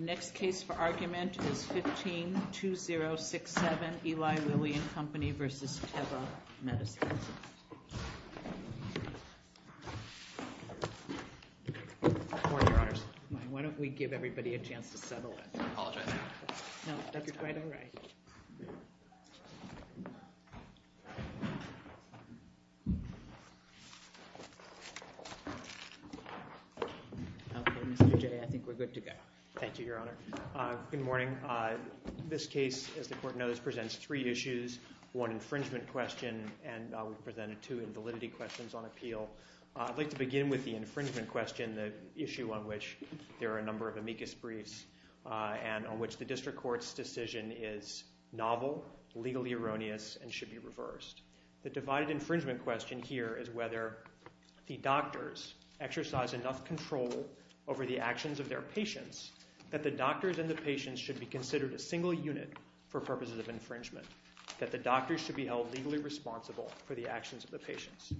Next case for argument is 15-2067, Eli Lilly and Company versus Teva Medicines. Good morning, Your Honors. Why don't we give everybody a chance to settle in. I apologize. No, that's quite all right. Okay, Mr. Jay, I think we're good to go. Thank you, Your Honor. Good morning. This case, as the Court knows, presents three issues, one infringement question, and we've presented two invalidity questions on appeal. I'd like to begin with the infringement question, the issue on which there are a number of amicus briefs and on which the district court's decision is novel, legally erroneous, and should be reversed. The divided infringement question here is whether the doctors exercise enough control over the actions of their patients that the doctors and the patients should be considered a single unit for purposes of infringement, that the doctors should be held legally responsible for the actions of the patients.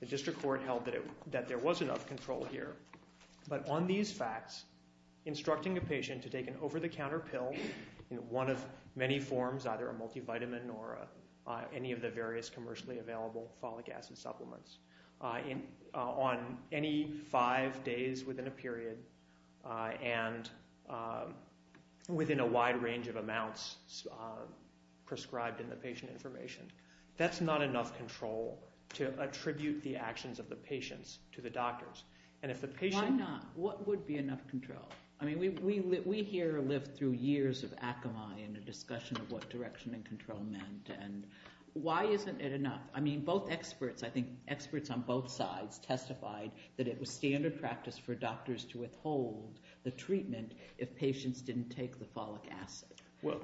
The district court held that there was enough control here, but on these facts, instructing a patient to take an over-the-counter pill in one of many forms, either a multivitamin or any of the various commercially available folic acid supplements, on any five days within a period and within a wide range of amounts prescribed in the patient information, that's not enough control to attribute the actions of the patients to the doctors. Why not? What would be enough control? I mean, we here lived through years of acami and a discussion of what direction and control meant, and why isn't it enough? I mean, both experts, I think experts on both sides testified that it was standard practice for doctors to withhold the treatment if patients didn't take the folic acid.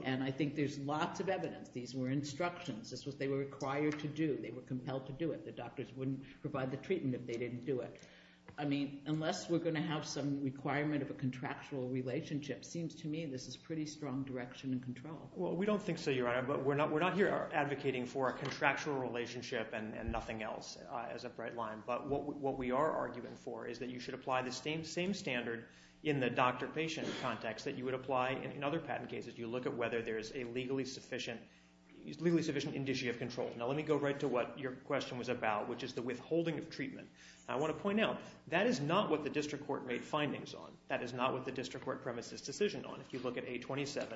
And I think there's lots of evidence. These were instructions. This is what they were required to do. They were compelled to do it. The doctors wouldn't provide the treatment if they didn't do it. I mean, unless we're going to have some requirement of a contractual relationship, it seems to me this is pretty strong direction and control. Well, we don't think so, Your Honor, but we're not here advocating for a contractual relationship and nothing else as a bright line. But what we are arguing for is that you should apply the same standard in the doctor-patient context that you would apply in other patent cases. You look at whether there is a legally sufficient indicia of control. Now let me go right to what your question was about, which is the withholding of treatment. I want to point out that is not what the district court made findings on. That is not what the district court premises decision on. If you look at A27,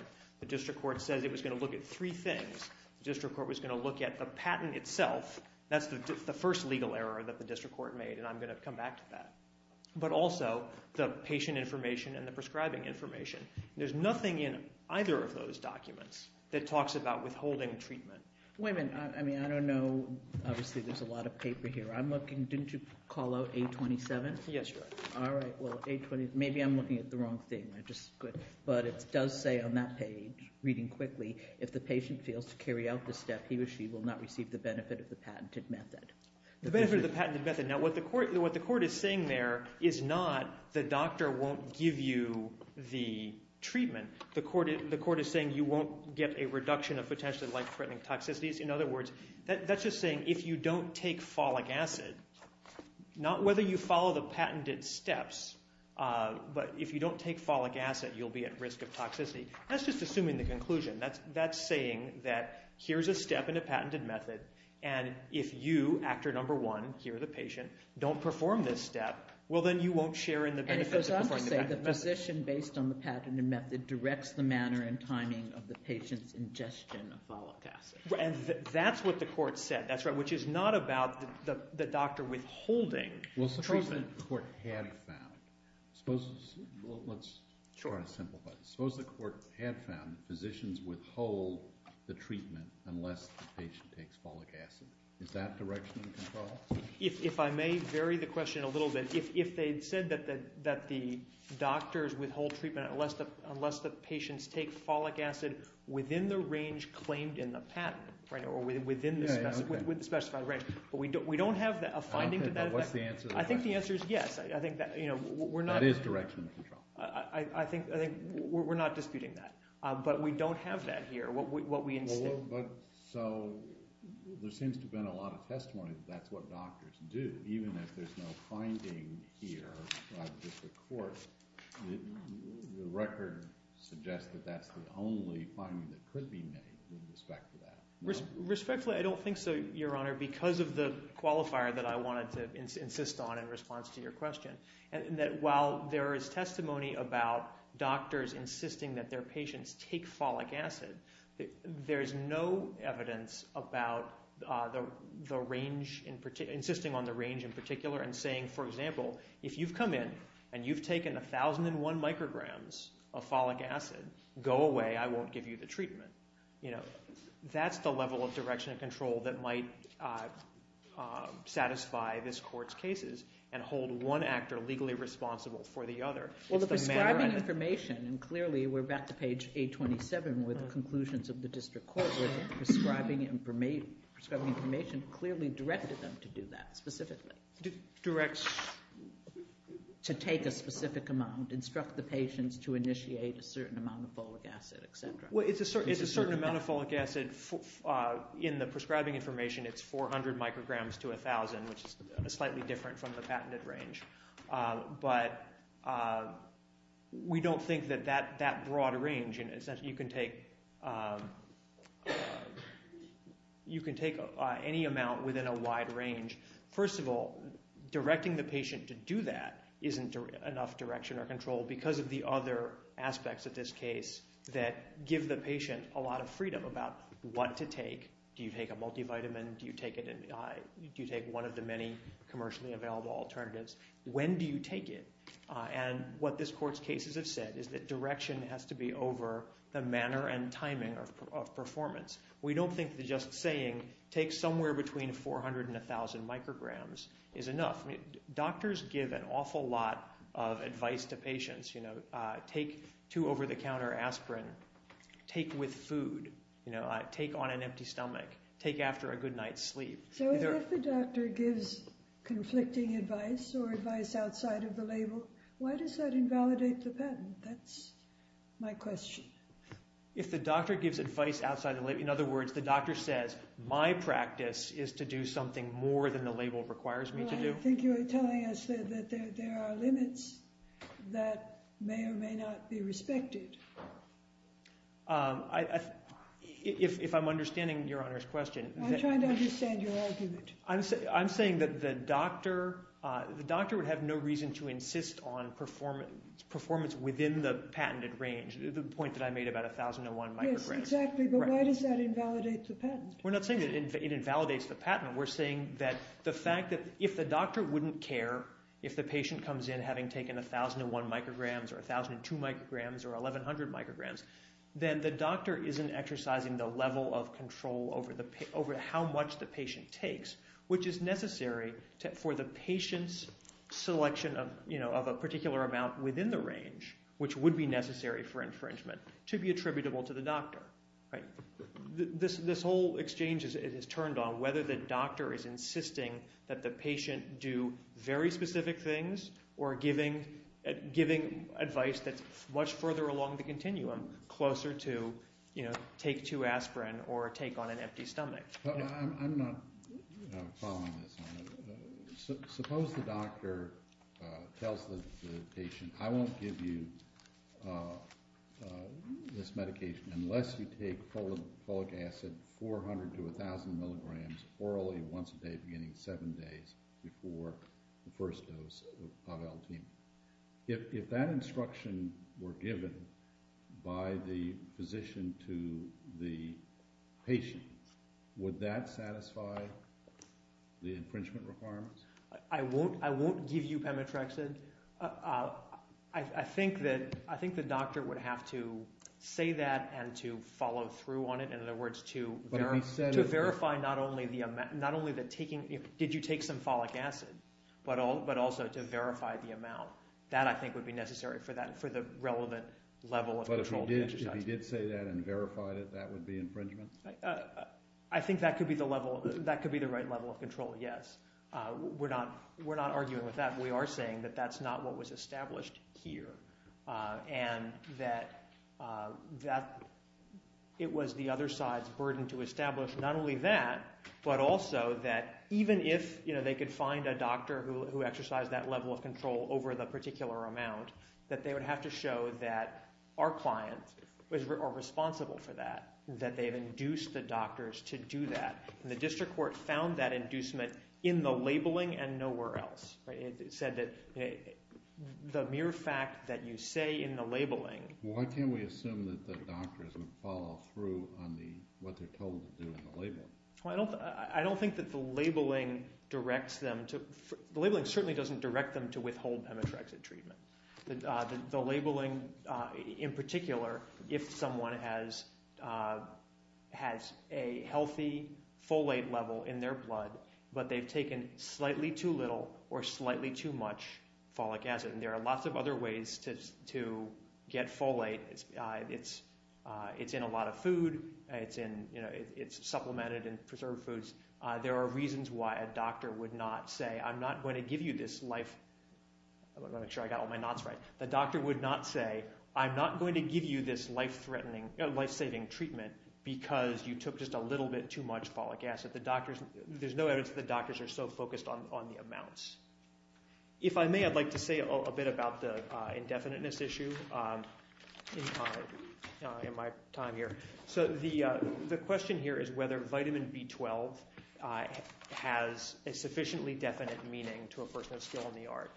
the district court says it was going to look at three things. The district court was going to look at the patent itself. That's the first legal error that the district court made, and I'm going to come back to that. But also the patient information and the prescribing information. There's nothing in either of those documents that talks about withholding treatment. Wait a minute. I mean I don't know. Obviously there's a lot of paper here. I'm looking. Didn't you call out A27? Yes, Your Honor. All right. Well, A27. Maybe I'm looking at the wrong thing. But it does say on that page, reading quickly, if the patient fails to carry out the step, he or she will not receive the benefit of the patented method. The benefit of the patented method. Now what the court is saying there is not the doctor won't give you the treatment. The court is saying you won't get a reduction of potentially life-threatening toxicities. In other words, that's just saying if you don't take folic acid, not whether you follow the patented steps, but if you don't take folic acid, you'll be at risk of toxicity. That's just assuming the conclusion. That's saying that here's a step in a patented method, and if you, actor number one, here the patient, don't perform this step, well then you won't share in the benefits of performing the patented method. And it does also say the physician, based on the patented method, directs the manner and timing of the patient's ingestion of folic acid. That's what the court said, which is not about the doctor withholding treatment. Suppose the court had found physicians withhold the treatment unless the patient takes folic acid. Is that direction of control? If I may vary the question a little bit, if they said that the doctors withhold treatment unless the patients take folic acid within the range claimed in the patent or within the specified range, but we don't have a finding to that effect. What's the answer to that? I think the answer is yes. That is direction of control. I think we're not disputing that. But we don't have that here. So there seems to have been a lot of testimony that that's what doctors do, even if there's no finding here by the district court. The record suggests that that's the only finding that could be made with respect to that. Respectfully, I don't think so, Your Honor, because of the qualifier that I wanted to insist on in response to your question. While there is testimony about doctors insisting that their patients take folic acid, there's no evidence about the range in particular, insisting on the range in particular, and saying, for example, if you've come in and you've taken 1,001 micrograms of folic acid, go away, I won't give you the treatment. That's the level of direction of control that might satisfy this court's cases and hold one actor legally responsible for the other. Well, the prescribing information, and clearly we're back to page 827 where the conclusions of the district court with prescribing information clearly directed them to do that specifically. Directs? To take a specific amount, instruct the patients to initiate a certain amount of folic acid, et cetera. Well, it's a certain amount of folic acid. In the prescribing information, it's 400 micrograms to 1,000, which is slightly different from the patented range. But we don't think that that broad range, you can take any amount within a wide range. First of all, directing the patient to do that isn't enough direction or control because of the other aspects of this case that give the patient a lot of freedom about what to take. Do you take a multivitamin? Do you take one of the many commercially available alternatives? When do you take it? What this court's cases have said is that direction has to be over the manner and timing of performance. We don't think that just saying take somewhere between 400 and 1,000 micrograms is enough. Doctors give an awful lot of advice to patients. Take two over-the-counter aspirin. Take with food. Take on an empty stomach. Take after a good night's sleep. So if the doctor gives conflicting advice or advice outside of the label, why does that invalidate the patent? That's my question. If the doctor gives advice outside the label, in other words, the doctor says my practice is to do something more than the label requires me to do? I think you're telling us that there are limits that may or may not be respected. If I'm understanding Your Honor's question. I'm trying to understand your argument. I'm saying that the doctor would have no reason to insist on performance within the patented range, the point that I made about 1,001 micrograms. Yes, exactly, but why does that invalidate the patent? We're not saying that it invalidates the patent. We're saying that the fact that if the doctor wouldn't care if the patient comes in having taken 1,001 micrograms or 1,002 micrograms or 1,100 micrograms, then the doctor isn't exercising the level of control over how much the patient takes, which is necessary for the patient's selection of a particular amount within the range, which would be necessary for infringement, to be attributable to the doctor. This whole exchange is turned on whether the doctor is insisting that the patient do very specific things or giving advice that's much further along the continuum, closer to take two aspirin or take on an empty stomach. I'm not following this, Your Honor. Suppose the doctor tells the patient, I won't give you this medication unless you take folic acid 400 to 1,000 milligrams orally once a day beginning seven days before the first dose of L-team. If that instruction were given by the physician to the patient, would that satisfy the infringement requirements? I won't give you Pemetrexid. I think the doctor would have to say that and to follow through on it. To verify not only did you take some folic acid, but also to verify the amount. That, I think, would be necessary for the relevant level of control to be exercised. But if he did say that and verified it, that would be infringement? I think that could be the right level of control, yes. We're not arguing with that. We are saying that that's not what was established here and that it was the other side's burden to establish not only that, but also that even if they could find a doctor who exercised that level of control over the particular amount, that they would have to show that our clients are responsible for that, that they've induced the doctors to do that. The district court found that inducement in the labeling and nowhere else. It said that the mere fact that you say in the labeling— Why can't we assume that the doctor is going to follow through on what they're told to do in the labeling? I don't think that the labeling directs them to— the labeling certainly doesn't direct them to withhold Pemetrexid treatment. The labeling, in particular, if someone has a healthy folate level in their blood, but they've taken slightly too little or slightly too much folic acid, and there are lots of other ways to get folate. It's in a lot of food. It's supplemented in preserved foods. There are reasons why a doctor would not say, I'm not going to give you this life— I want to make sure I got all my knots right. The doctor would not say, I'm not going to give you this life-saving treatment because you took just a little bit too much folic acid. There's no evidence that the doctors are so focused on the amounts. If I may, I'd like to say a bit about the indefiniteness issue in my time here. The question here is whether vitamin B12 has a sufficiently definite meaning to a person of skill in the art.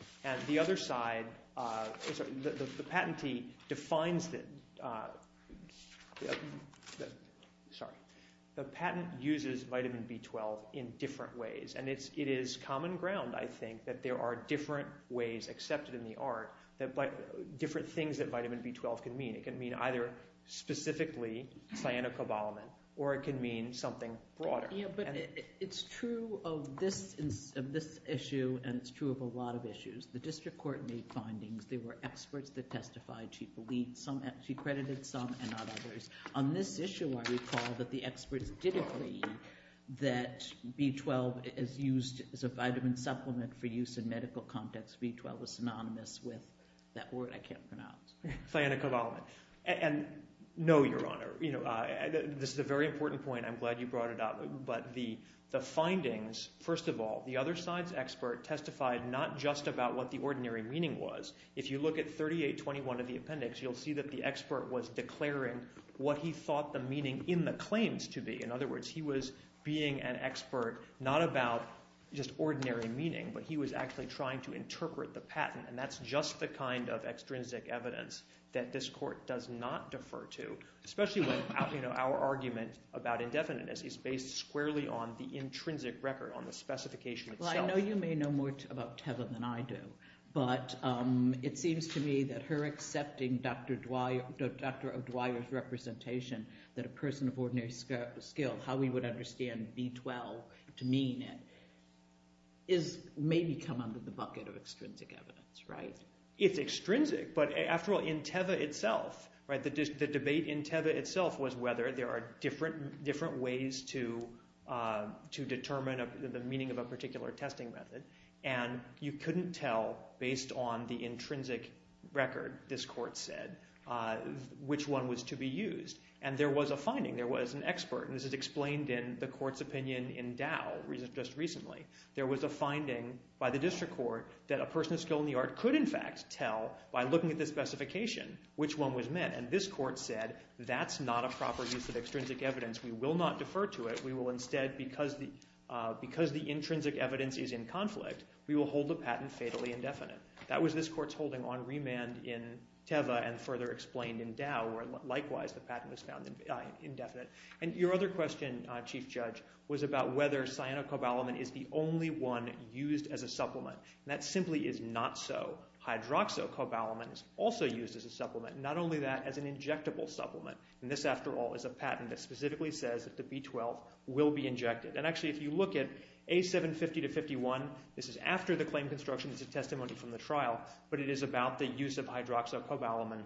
The patent uses vitamin B12 in different ways, and it is common ground, I think, that there are different ways accepted in the art, different things that vitamin B12 can mean. It can mean either specifically cyanocobalamin, or it can mean something broader. Yeah, but it's true of this issue, and it's true of a lot of issues. The district court made findings. There were experts that testified. She believed some—she credited some and not others. On this issue, I recall that the experts did agree that B12 is used as a vitamin supplement for use in medical context. B12 is synonymous with that word I can't pronounce. Cyanocobalamin. And no, Your Honor, this is a very important point. I'm glad you brought it up. But the findings, first of all, the other side's expert testified not just about what the ordinary meaning was. If you look at 3821 of the appendix, you'll see that the expert was declaring what he thought the meaning in the claims to be. In other words, he was being an expert not about just ordinary meaning, but he was actually trying to interpret the patent, and that's just the kind of extrinsic evidence that this court does not defer to, especially when our argument about indefiniteness is based squarely on the intrinsic record, on the specification itself. Well, I know you may know more about TEVA than I do, but it seems to me that her accepting Dr. O'Dwyer's representation, that a person of ordinary skill, how we would understand B12 to mean it, is maybe come under the bucket of extrinsic evidence, right? It's extrinsic. But after all, in TEVA itself, the debate in TEVA itself was whether there are different ways to determine the meaning of a particular testing method, and you couldn't tell based on the intrinsic record, this court said, which one was to be used. And there was a finding. There was an expert, and this is explained in the court's opinion in Dow just recently. There was a finding by the district court that a person of skill in the art could in fact tell by looking at the specification which one was meant, and this court said that's not a proper use of extrinsic evidence. We will not defer to it. We will instead, because the intrinsic evidence is in conflict, we will hold the patent fatally indefinite. That was this court's holding on remand in TEVA and further explained in Dow where likewise the patent was found indefinite. And your other question, Chief Judge, was about whether cyanocobalamin is the only one used as a supplement, and that simply is not so. Hydroxocobalamin is also used as a supplement, not only that, as an injectable supplement, and this after all is a patent that specifically says that the B12 will be injected. And actually if you look at A750-51, this is after the claim construction. It's a testimony from the trial, but it is about the use of hydroxocobalamin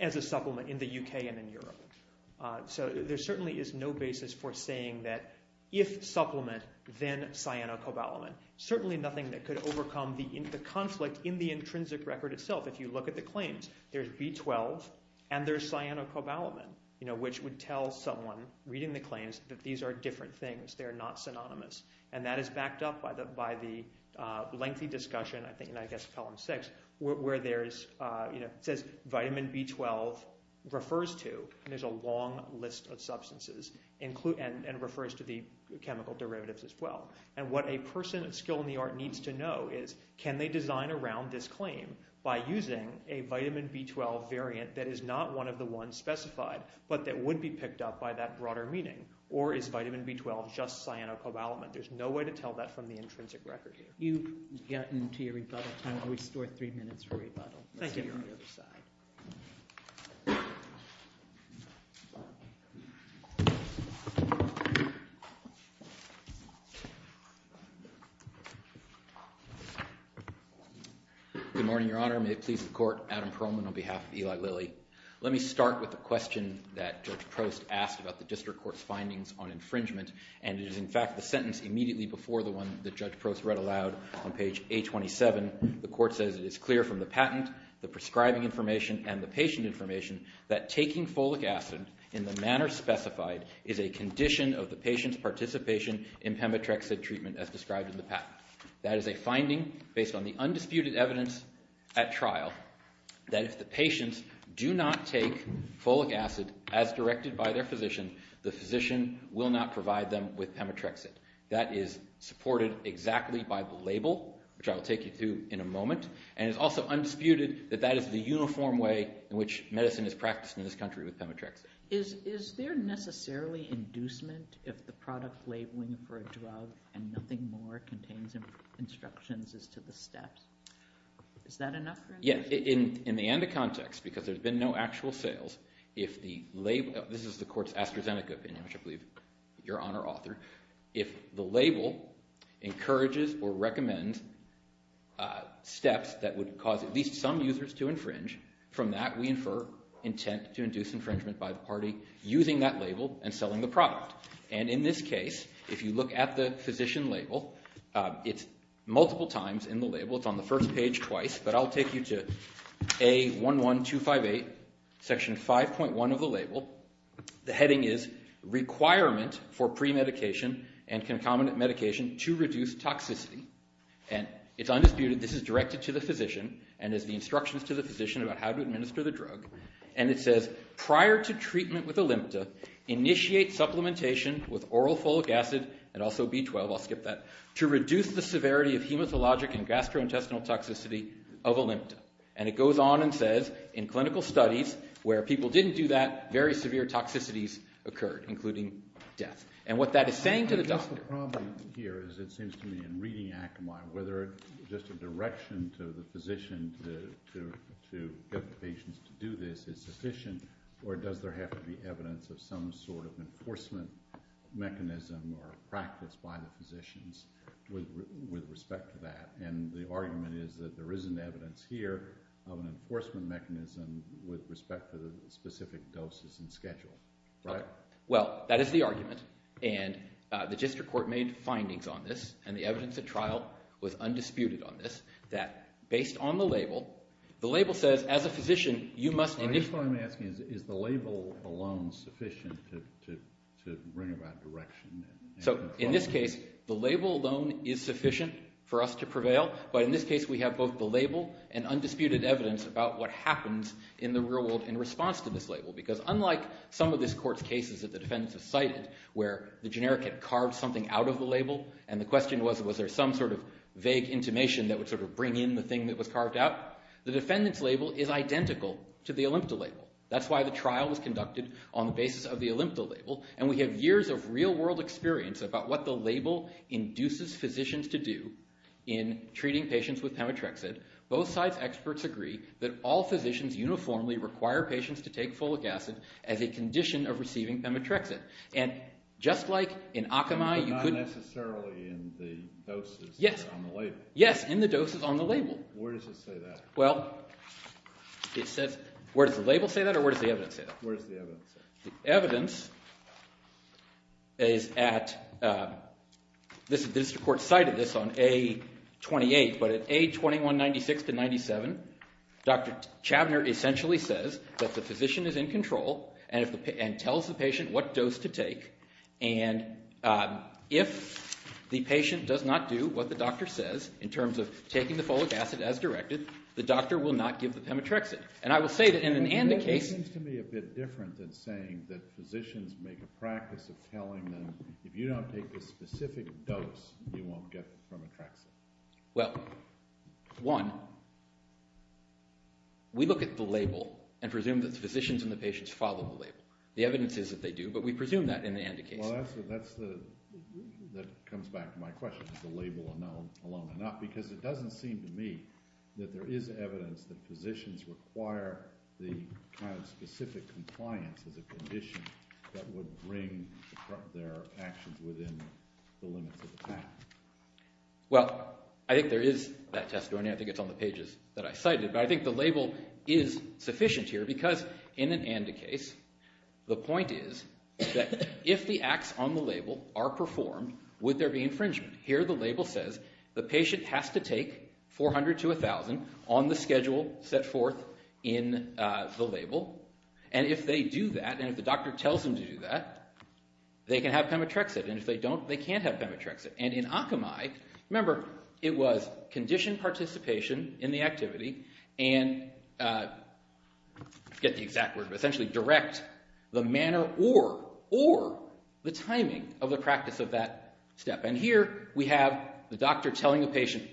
as a supplement in the UK and in Europe. So there certainly is no basis for saying that if supplement, then cyanocobalamin. Certainly nothing that could overcome the conflict in the intrinsic record itself. If you look at the claims, there's B12 and there's cyanocobalamin, which would tell someone reading the claims that these are different things. They're not synonymous. And that is backed up by the lengthy discussion, I think in, I guess, Column 6, where it says vitamin B12 refers to, and there's a long list of substances, and refers to the chemical derivatives as well. And what a person of skill in the art needs to know is, can they design around this claim by using a vitamin B12 variant that is not one of the ones specified, but that would be picked up by that broader meaning? Or is vitamin B12 just cyanocobalamin? There's no way to tell that from the intrinsic record. You've gotten to your rebuttal time. I'll restore three minutes for rebuttal. Thank you. Good morning, Your Honor. May it please the Court. Adam Perlman on behalf of Eli Lilly. Let me start with the question that Judge Prost asked about the district court's findings on infringement. And it is, in fact, the sentence immediately before the one that Judge Prost read aloud on page 827. The court says it is clear from the patent, the prescribing information, and the patient information that taking folic acid in the manner specified is a condition of the patient's participation in pemetrexid treatment as described in the patent. That is a finding based on the undisputed evidence at trial that if the patients do not take folic acid as directed by their physician, the physician will not provide them with pemetrexid. That is supported exactly by the label, which I will take you through in a moment. And it's also undisputed that that is the uniform way in which medicine is practiced in this country with pemetrexid. Is there necessarily inducement if the product labeling for a drug and nothing more contains instructions as to the steps? Is that enough for instance? Yes, in the ANDA context, because there's been no actual sales, if the label – this is the court's AstraZeneca opinion, which I believe your Honor authored – if the label encourages or recommends steps that would cause at least some users to infringe, from that we infer intent to induce infringement by the party using that label and selling the product. And in this case, if you look at the physician label, it's multiple times in the label. It's on the first page twice, but I'll take you to A11258, Section 5.1 of the label. The heading is Requirement for Premedication and Concomitant Medication to Reduce Toxicity. And it's undisputed this is directed to the physician and is the instructions to the physician about how to administer the drug. And it says prior to treatment with Olympta, initiate supplementation with oral folic acid and also B12 – I'll skip that – to reduce the severity of hematologic and gastrointestinal toxicity of Olympta. And it goes on and says in clinical studies where people didn't do that, very severe toxicities occurred, including death. And what that is saying to the doctor – I guess the problem here is it seems to me in reading Akamai, whether just a direction to the physician to get the patients to do this is sufficient, or does there have to be evidence of some sort of enforcement mechanism or practice by the physicians with respect to that? And the argument is that there isn't evidence here of an enforcement mechanism with respect to the specific doses and schedule, right? Well, that is the argument, and the district court made findings on this, and the evidence at trial was undisputed on this, that based on the label, the label says as a physician you must – I guess what I'm asking is, is the label alone sufficient to bring about direction? So in this case, the label alone is sufficient for us to prevail. But in this case, we have both the label and undisputed evidence about what happens in the real world in response to this label, because unlike some of this court's cases that the defendants have cited where the generic had carved something out of the label and the question was, was there some sort of vague intimation that would sort of bring in the thing that was carved out, the defendant's label is identical to the Olympda label. That's why the trial was conducted on the basis of the Olympda label, and we have years of real-world experience about what the label induces physicians to do in treating patients with pemetrexid. Both sides' experts agree that all physicians uniformly require patients to take folic acid as a condition of receiving pemetrexid. And just like in Akamai, you could – But not necessarily in the doses on the label. Yes, in the doses on the label. Where does it say that? Well, it says – where does the label say that or where does the evidence say that? Where does the evidence say that? The evidence is at – the district court cited this on A-28, but at A-2196-97, Dr. Chabner essentially says that the physician is in control and tells the patient what dose to take, and if the patient does not do what the doctor says in terms of taking the folic acid as directed, the doctor will not give the pemetrexid. And I will say that in an ANDA case – It seems to me a bit different than saying that physicians make a practice of telling them, if you don't take a specific dose, you won't get pemetrexid. Well, one, we look at the label and presume that the physicians and the patients follow the label. The evidence is that they do, but we presume that in the ANDA case. Well, that's the – that comes back to my question, is the label alone enough? Because it doesn't seem to me that there is evidence that physicians require the kind of specific compliance as a condition that would bring their actions within the limits of the patent. Well, I think there is that testimony. I think it's on the pages that I cited. But I think the label is sufficient here because in an ANDA case, the point is that if the acts on the label are performed, would there be infringement? Here the label says the patient has to take 400 to 1,000 on the schedule set forth in the label, and if they do that, and if the doctor tells them to do that, they can have pemetrexid. And if they don't, they can't have pemetrexid. And in Akamai, remember, it was condition participation in the activity and – I forget the exact word, but essentially direct the manner or the timing of the practice of that step. And here we have the doctor telling a patient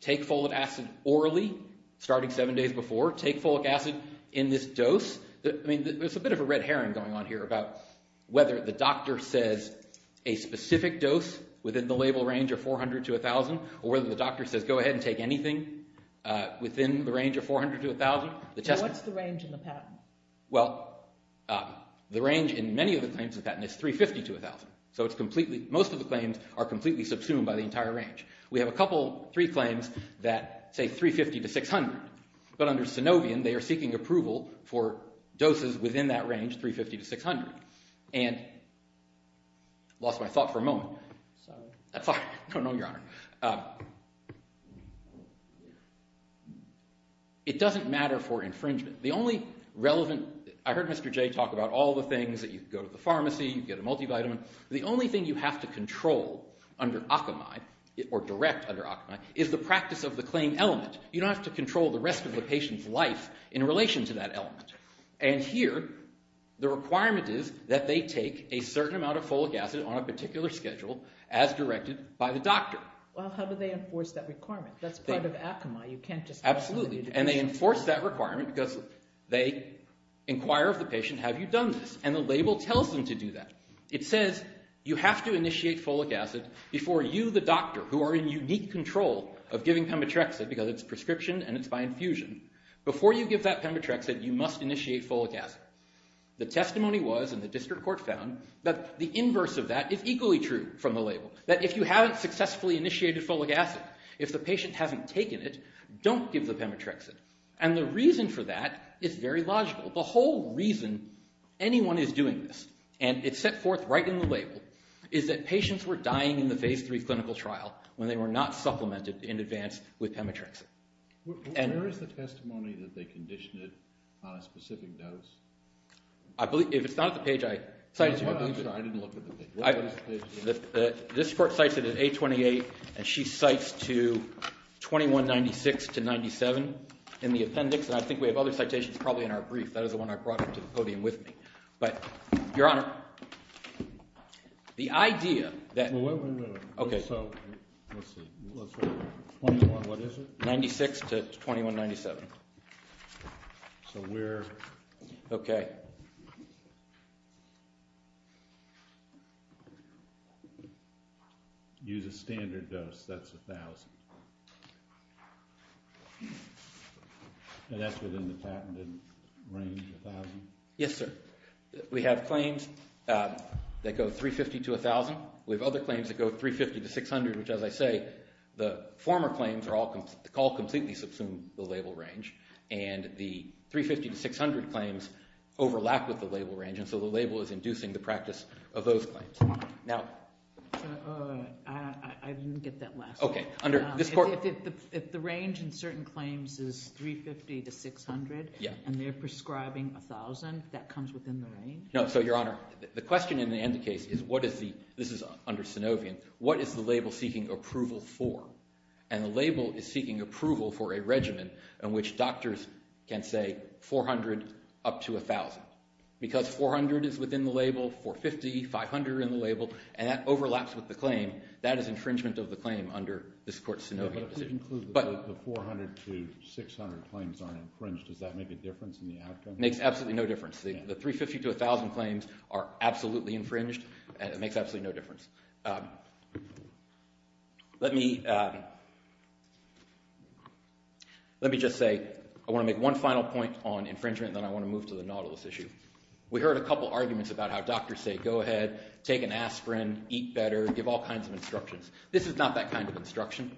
take folic acid orally starting seven days before, take folic acid in this dose. I mean, there's a bit of a red herring going on here about whether the doctor says a specific dose within the label range of 400 to 1,000 or whether the doctor says go ahead and take anything within the range of 400 to 1,000. What's the range in the patent? Well, the range in many of the claims of the patent is 350 to 1,000. So it's completely – most of the claims are completely subsumed by the entire range. We have a couple, three claims that say 350 to 600, but under Synovian they are seeking approval for doses within that range, 350 to 600. And I lost my thought for a moment. Sorry. That's all right. No, no, Your Honor. It doesn't matter for infringement. The only relevant – I heard Mr. Jay talk about all the things that you can go to the pharmacy, you can get a multivitamin. The only thing you have to control under Akamai or direct under Akamai is the practice of the claim element. You don't have to control the rest of the patient's life in relation to that element. And here the requirement is that they take a certain amount of folic acid on a particular schedule as directed by the doctor. Well, how do they enforce that requirement? That's part of Akamai. You can't just – Absolutely. And they enforce that requirement because they inquire of the patient, have you done this? And the label tells them to do that. It says you have to initiate folic acid before you, the doctor, who are in unique control of giving Pemetrexid because it's prescription and it's by infusion, before you give that Pemetrexid, you must initiate folic acid. The testimony was, and the district court found, that the inverse of that is equally true from the label, that if you haven't successfully initiated folic acid, if the patient hasn't taken it, don't give the Pemetrexid. And the reason for that is very logical. The whole reason anyone is doing this, and it's set forth right in the label, is that patients were dying in the phase three clinical trial when they were not supplemented in advance with Pemetrexid. Where is the testimony that they conditioned it on a specific dose? If it's not at the page I cited to you, I believe it is. I didn't look at the page. This court cites it as A28, and she cites to 2196 to 97 in the appendix, and I think we have other citations probably in our brief. That is the one I brought up to the podium with me. But, Your Honor, the idea that— Wait, wait, wait. Okay. Let's see. 21, what is it? 96 to 2197. So we're— Okay. Use a standard dose. That's 1,000. And that's within the patented range, 1,000? Yes, sir. We have claims that go 350 to 1,000. We have other claims that go 350 to 600, which, as I say, the former claims all completely subsume the label range, and the 350 to 600 claims overlap with the label range, and so the label is inducing the practice of those claims. Now— I didn't get that last one. Okay. If the range in certain claims is 350 to 600, and they're prescribing 1,000, that comes within the range? No. So, Your Honor, the question in the end of the case is what is the— this is under Synovian— what is the label seeking approval for? And the label is seeking approval for a regimen in which doctors can say 400 up to 1,000. Because 400 is within the label, 450, 500 are in the label, and that overlaps with the claim. That is infringement of the claim under this court's Synovian position. If you conclude that the 400 to 600 claims aren't infringed, does that make a difference in the outcome? It makes absolutely no difference. The 350 to 1,000 claims are absolutely infringed, and it makes absolutely no difference. Let me just say I want to make one final point on infringement, and then I want to move to the nautilus issue. We heard a couple arguments about how doctors say, go ahead, take an aspirin, eat better, give all kinds of instructions. This is not that kind of instruction.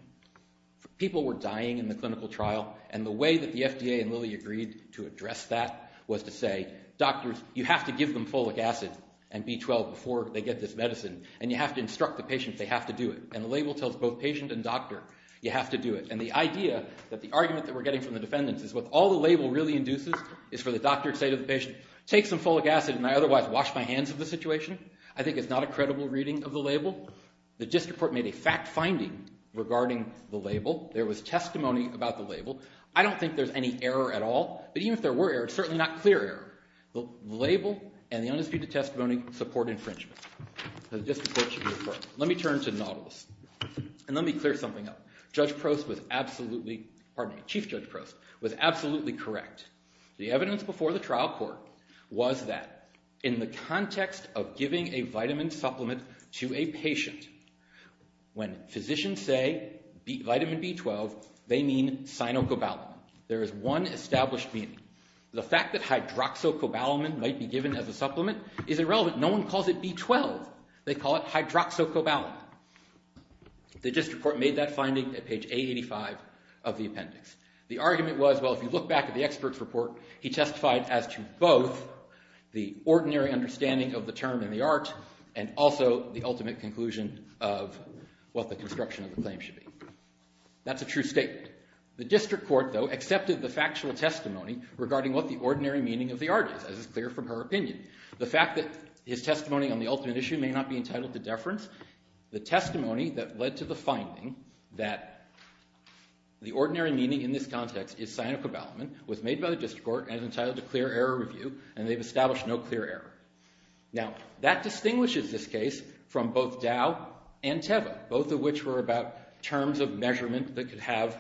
People were dying in the clinical trial, and the way that the FDA and Lilly agreed to address that was to say, doctors, you have to give them folic acid and B12 before they get this medicine, and you have to instruct the patient they have to do it. And the label tells both patient and doctor, you have to do it. And the idea that the argument that we're getting from the defendants is what all the label really induces is for the doctor to say to the patient, take some folic acid and I otherwise wash my hands of the situation. I think it's not a credible reading of the label. The district court made a fact finding regarding the label. There was testimony about the label. I don't think there's any error at all. But even if there were error, it's certainly not clear error. The label and the undisputed testimony support infringement. The district court should be affirmed. Let me turn to nautilus, and let me clear something up. Judge Prost was absolutely, pardon me, Chief Judge Prost, was absolutely correct. The evidence before the trial court was that in the context of giving a vitamin supplement to a patient, when physicians say vitamin B12, they mean cyanocobalamin. There is one established meaning. The fact that hydroxocobalamin might be given as a supplement is irrelevant. No one calls it B12. They call it hydroxocobalamin. The district court made that finding at page A85 of the appendix. The argument was, well, if you look back at the expert's report, he testified as to both the ordinary understanding of the term in the art and also the ultimate conclusion of what the construction of the claim should be. That's a true statement. The district court, though, accepted the factual testimony regarding what the ordinary meaning of the art is, as is clear from her opinion. The fact that his testimony on the ultimate issue may not be entitled to deference, the testimony that led to the finding that the ordinary meaning in this context is cyanocobalamin was made by the district court and entitled to clear error review, and they've established no clear error. Now, that distinguishes this case from both Dow and Teva, both of which were about terms of measurement that could have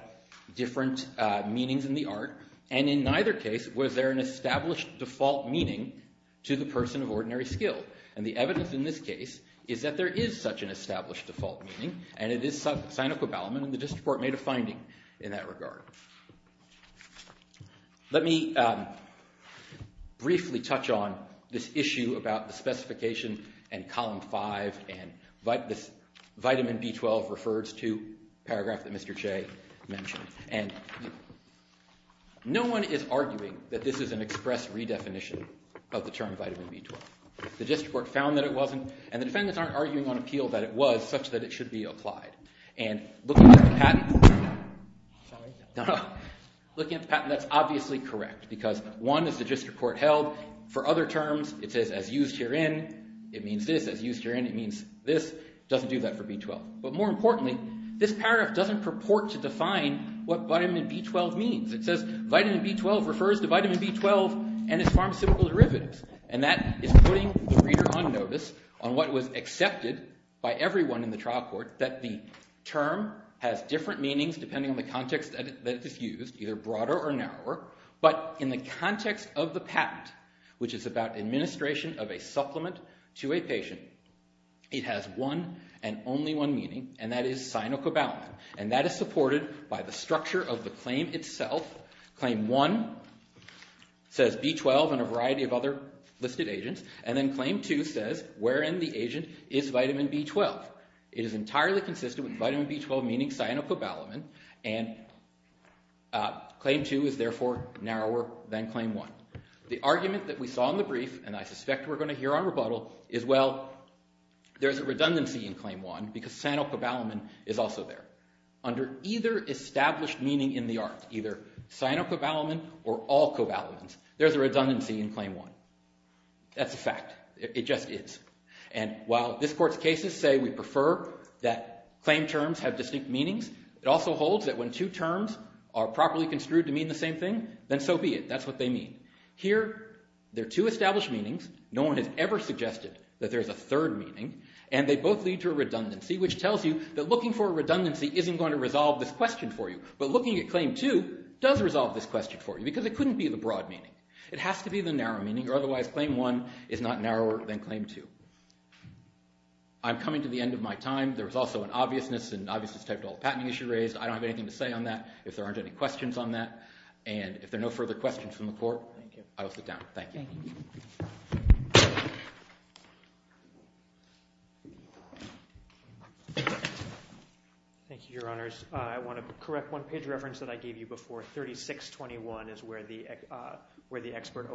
different meanings in the art, and in neither case was there an established default meaning to the person of ordinary skill. And the evidence in this case is that there is such an established default meaning, and it is cyanocobalamin, and the district court made a finding in that regard. Let me briefly touch on this issue about the specification and Column 5 and this vitamin B12 refers to paragraph that Mr. Che mentioned. And no one is arguing that this is an express redefinition of the term vitamin B12. The district court found that it wasn't, and the defendants aren't arguing on appeal that it was such that it should be applied. And looking at the patent, that's obviously correct, because one, as the district court held, for other terms, it says as used herein, it means this, as used herein, it means this. It doesn't do that for B12. But more importantly, this paragraph doesn't purport to define what vitamin B12 means. It says vitamin B12 refers to vitamin B12 and its pharmaceutical derivatives, and that is putting the reader on notice on what was accepted by everyone in the trial court that the term has different meanings depending on the context that it is used, either broader or narrower, but in the context of the patent, which is about administration of a supplement to a patient, it has one and only one meaning, and that is cyanocobalamin, and that is supported by the structure of the claim itself. Claim 1 says B12 and a variety of other listed agents, and then claim 2 says wherein the agent is vitamin B12. It is entirely consistent with vitamin B12 meaning cyanocobalamin, and claim 2 is therefore narrower than claim 1. The argument that we saw in the brief, and I suspect we're going to hear on rebuttal, is well, there's a redundancy in claim 1 because cyanocobalamin is also there. Under either established meaning in the art, either cyanocobalamin or all cobalamins, there's a redundancy in claim 1. That's a fact. It just is. And while this court's cases say we prefer that claim terms have distinct meanings, it also holds that when two terms are properly construed to mean the same thing, then so be it. That's what they mean. Here there are two established meanings. No one has ever suggested that there's a third meaning, and they both lead to a redundancy, which tells you that looking for a redundancy isn't going to resolve this question for you, but looking at claim 2 does resolve this question for you because it couldn't be the broad meaning. It has to be the narrow meaning, or otherwise claim 1 is not narrower than claim 2. I'm coming to the end of my time. There was also an obviousness, and obviousness typed all the patenting issues raised. I don't have anything to say on that. If there aren't any questions on that, and if there are no further questions from the court, I will sit down. Thank you. Thank you, Your Honors. I want to correct one page reference that I gave you before. 3621 is where the expert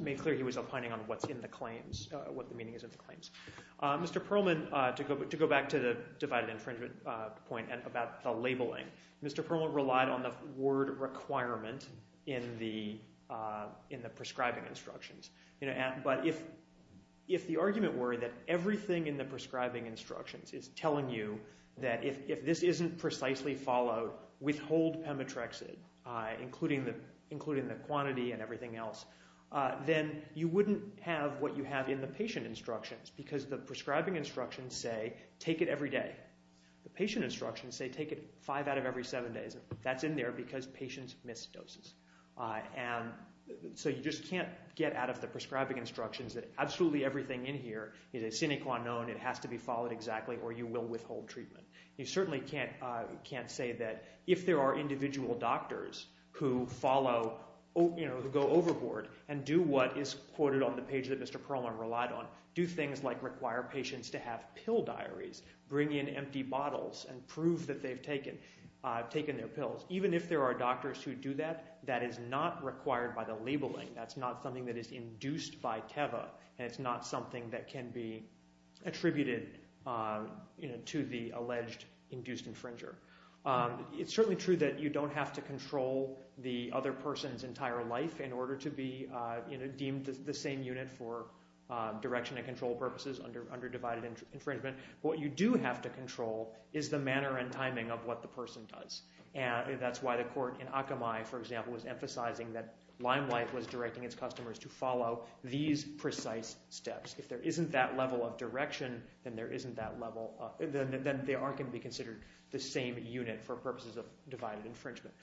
made clear he was opining on what's in the claims, what the meaning is in the claims. Mr. Perlman, to go back to the divided infringement point about the labeling, Mr. Perlman relied on the word requirement in the prescribing instructions. But if the argument were that everything in the prescribing instructions is telling you that if this isn't precisely followed, withhold pemetrexid, including the quantity and everything else, then you wouldn't have what you have in the patient instructions because the prescribing instructions say take it every day. The patient instructions say take it five out of every seven days. That's in there because patients missed doses. So you just can't get out of the prescribing instructions that absolutely everything in here is a sine qua non, it has to be followed exactly, or you will withhold treatment. You certainly can't say that if there are individual doctors who follow, who go overboard and do what is quoted on the page that Mr. Perlman relied on, do things like require patients to have pill diaries, bring in empty bottles, and prove that they've taken their pills. Even if there are doctors who do that, that is not required by the labeling. That's not something that is induced by TEVA, and it's not something that can be attributed to the alleged induced infringer. It's certainly true that you don't have to control the other person's entire life in order to be deemed the same unit for direction and control purposes under divided infringement. What you do have to control is the manner and timing of what the person does. That's why the court in Akamai, for example, was emphasizing that Limelight was directing its customers to follow these precise steps. If there isn't that level of direction, then they aren't going to be considered the same unit for purposes of divided infringement.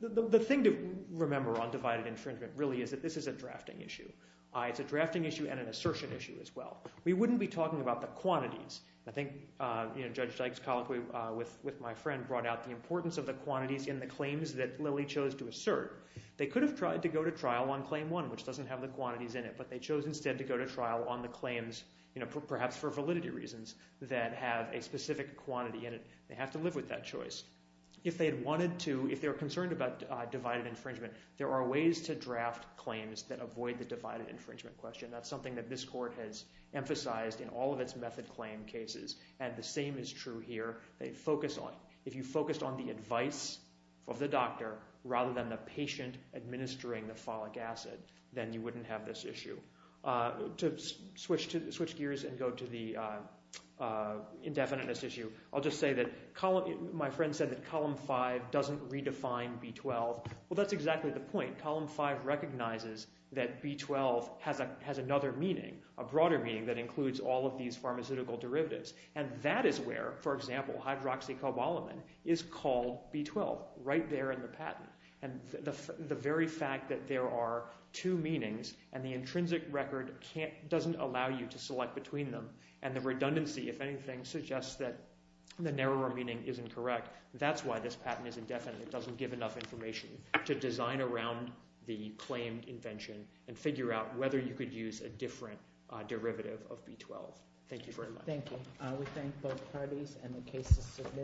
The thing to remember on divided infringement really is that this is a drafting issue. It's a drafting issue and an assertion issue as well. We wouldn't be talking about the quantities. I think Judge Dykes' colloquy with my friend brought out the importance of the quantities in the claims that Lilly chose to assert. They could have tried to go to trial on claim one, which doesn't have the quantities in it, but they chose instead to go to trial on the claims, perhaps for validity reasons, that have a specific quantity in it. They have to live with that choice. If they're concerned about divided infringement, there are ways to draft claims that avoid the divided infringement question. That's something that this court has emphasized in all of its method claim cases, and the same is true here. If you focused on the advice of the doctor rather than the patient administering the folic acid, then you wouldn't have this issue. To switch gears and go to the indefiniteness issue, I'll just say that my friend said that Column 5 doesn't redefine B-12. Well, that's exactly the point. Column 5 recognizes that B-12 has another meaning, a broader meaning that includes all of these pharmaceutical derivatives, and that is where, for example, hydroxycobalamin is called B-12, right there in the patent. The very fact that there are two meanings and the intrinsic record doesn't allow you to select between them and the redundancy, if anything, suggests that the narrower meaning isn't correct, that's why this patent is indefinite. It doesn't give enough information to design around the claim invention and figure out whether you could use a different derivative of B-12. Thank you very much. Thank you. We thank both parties and the cases submitted.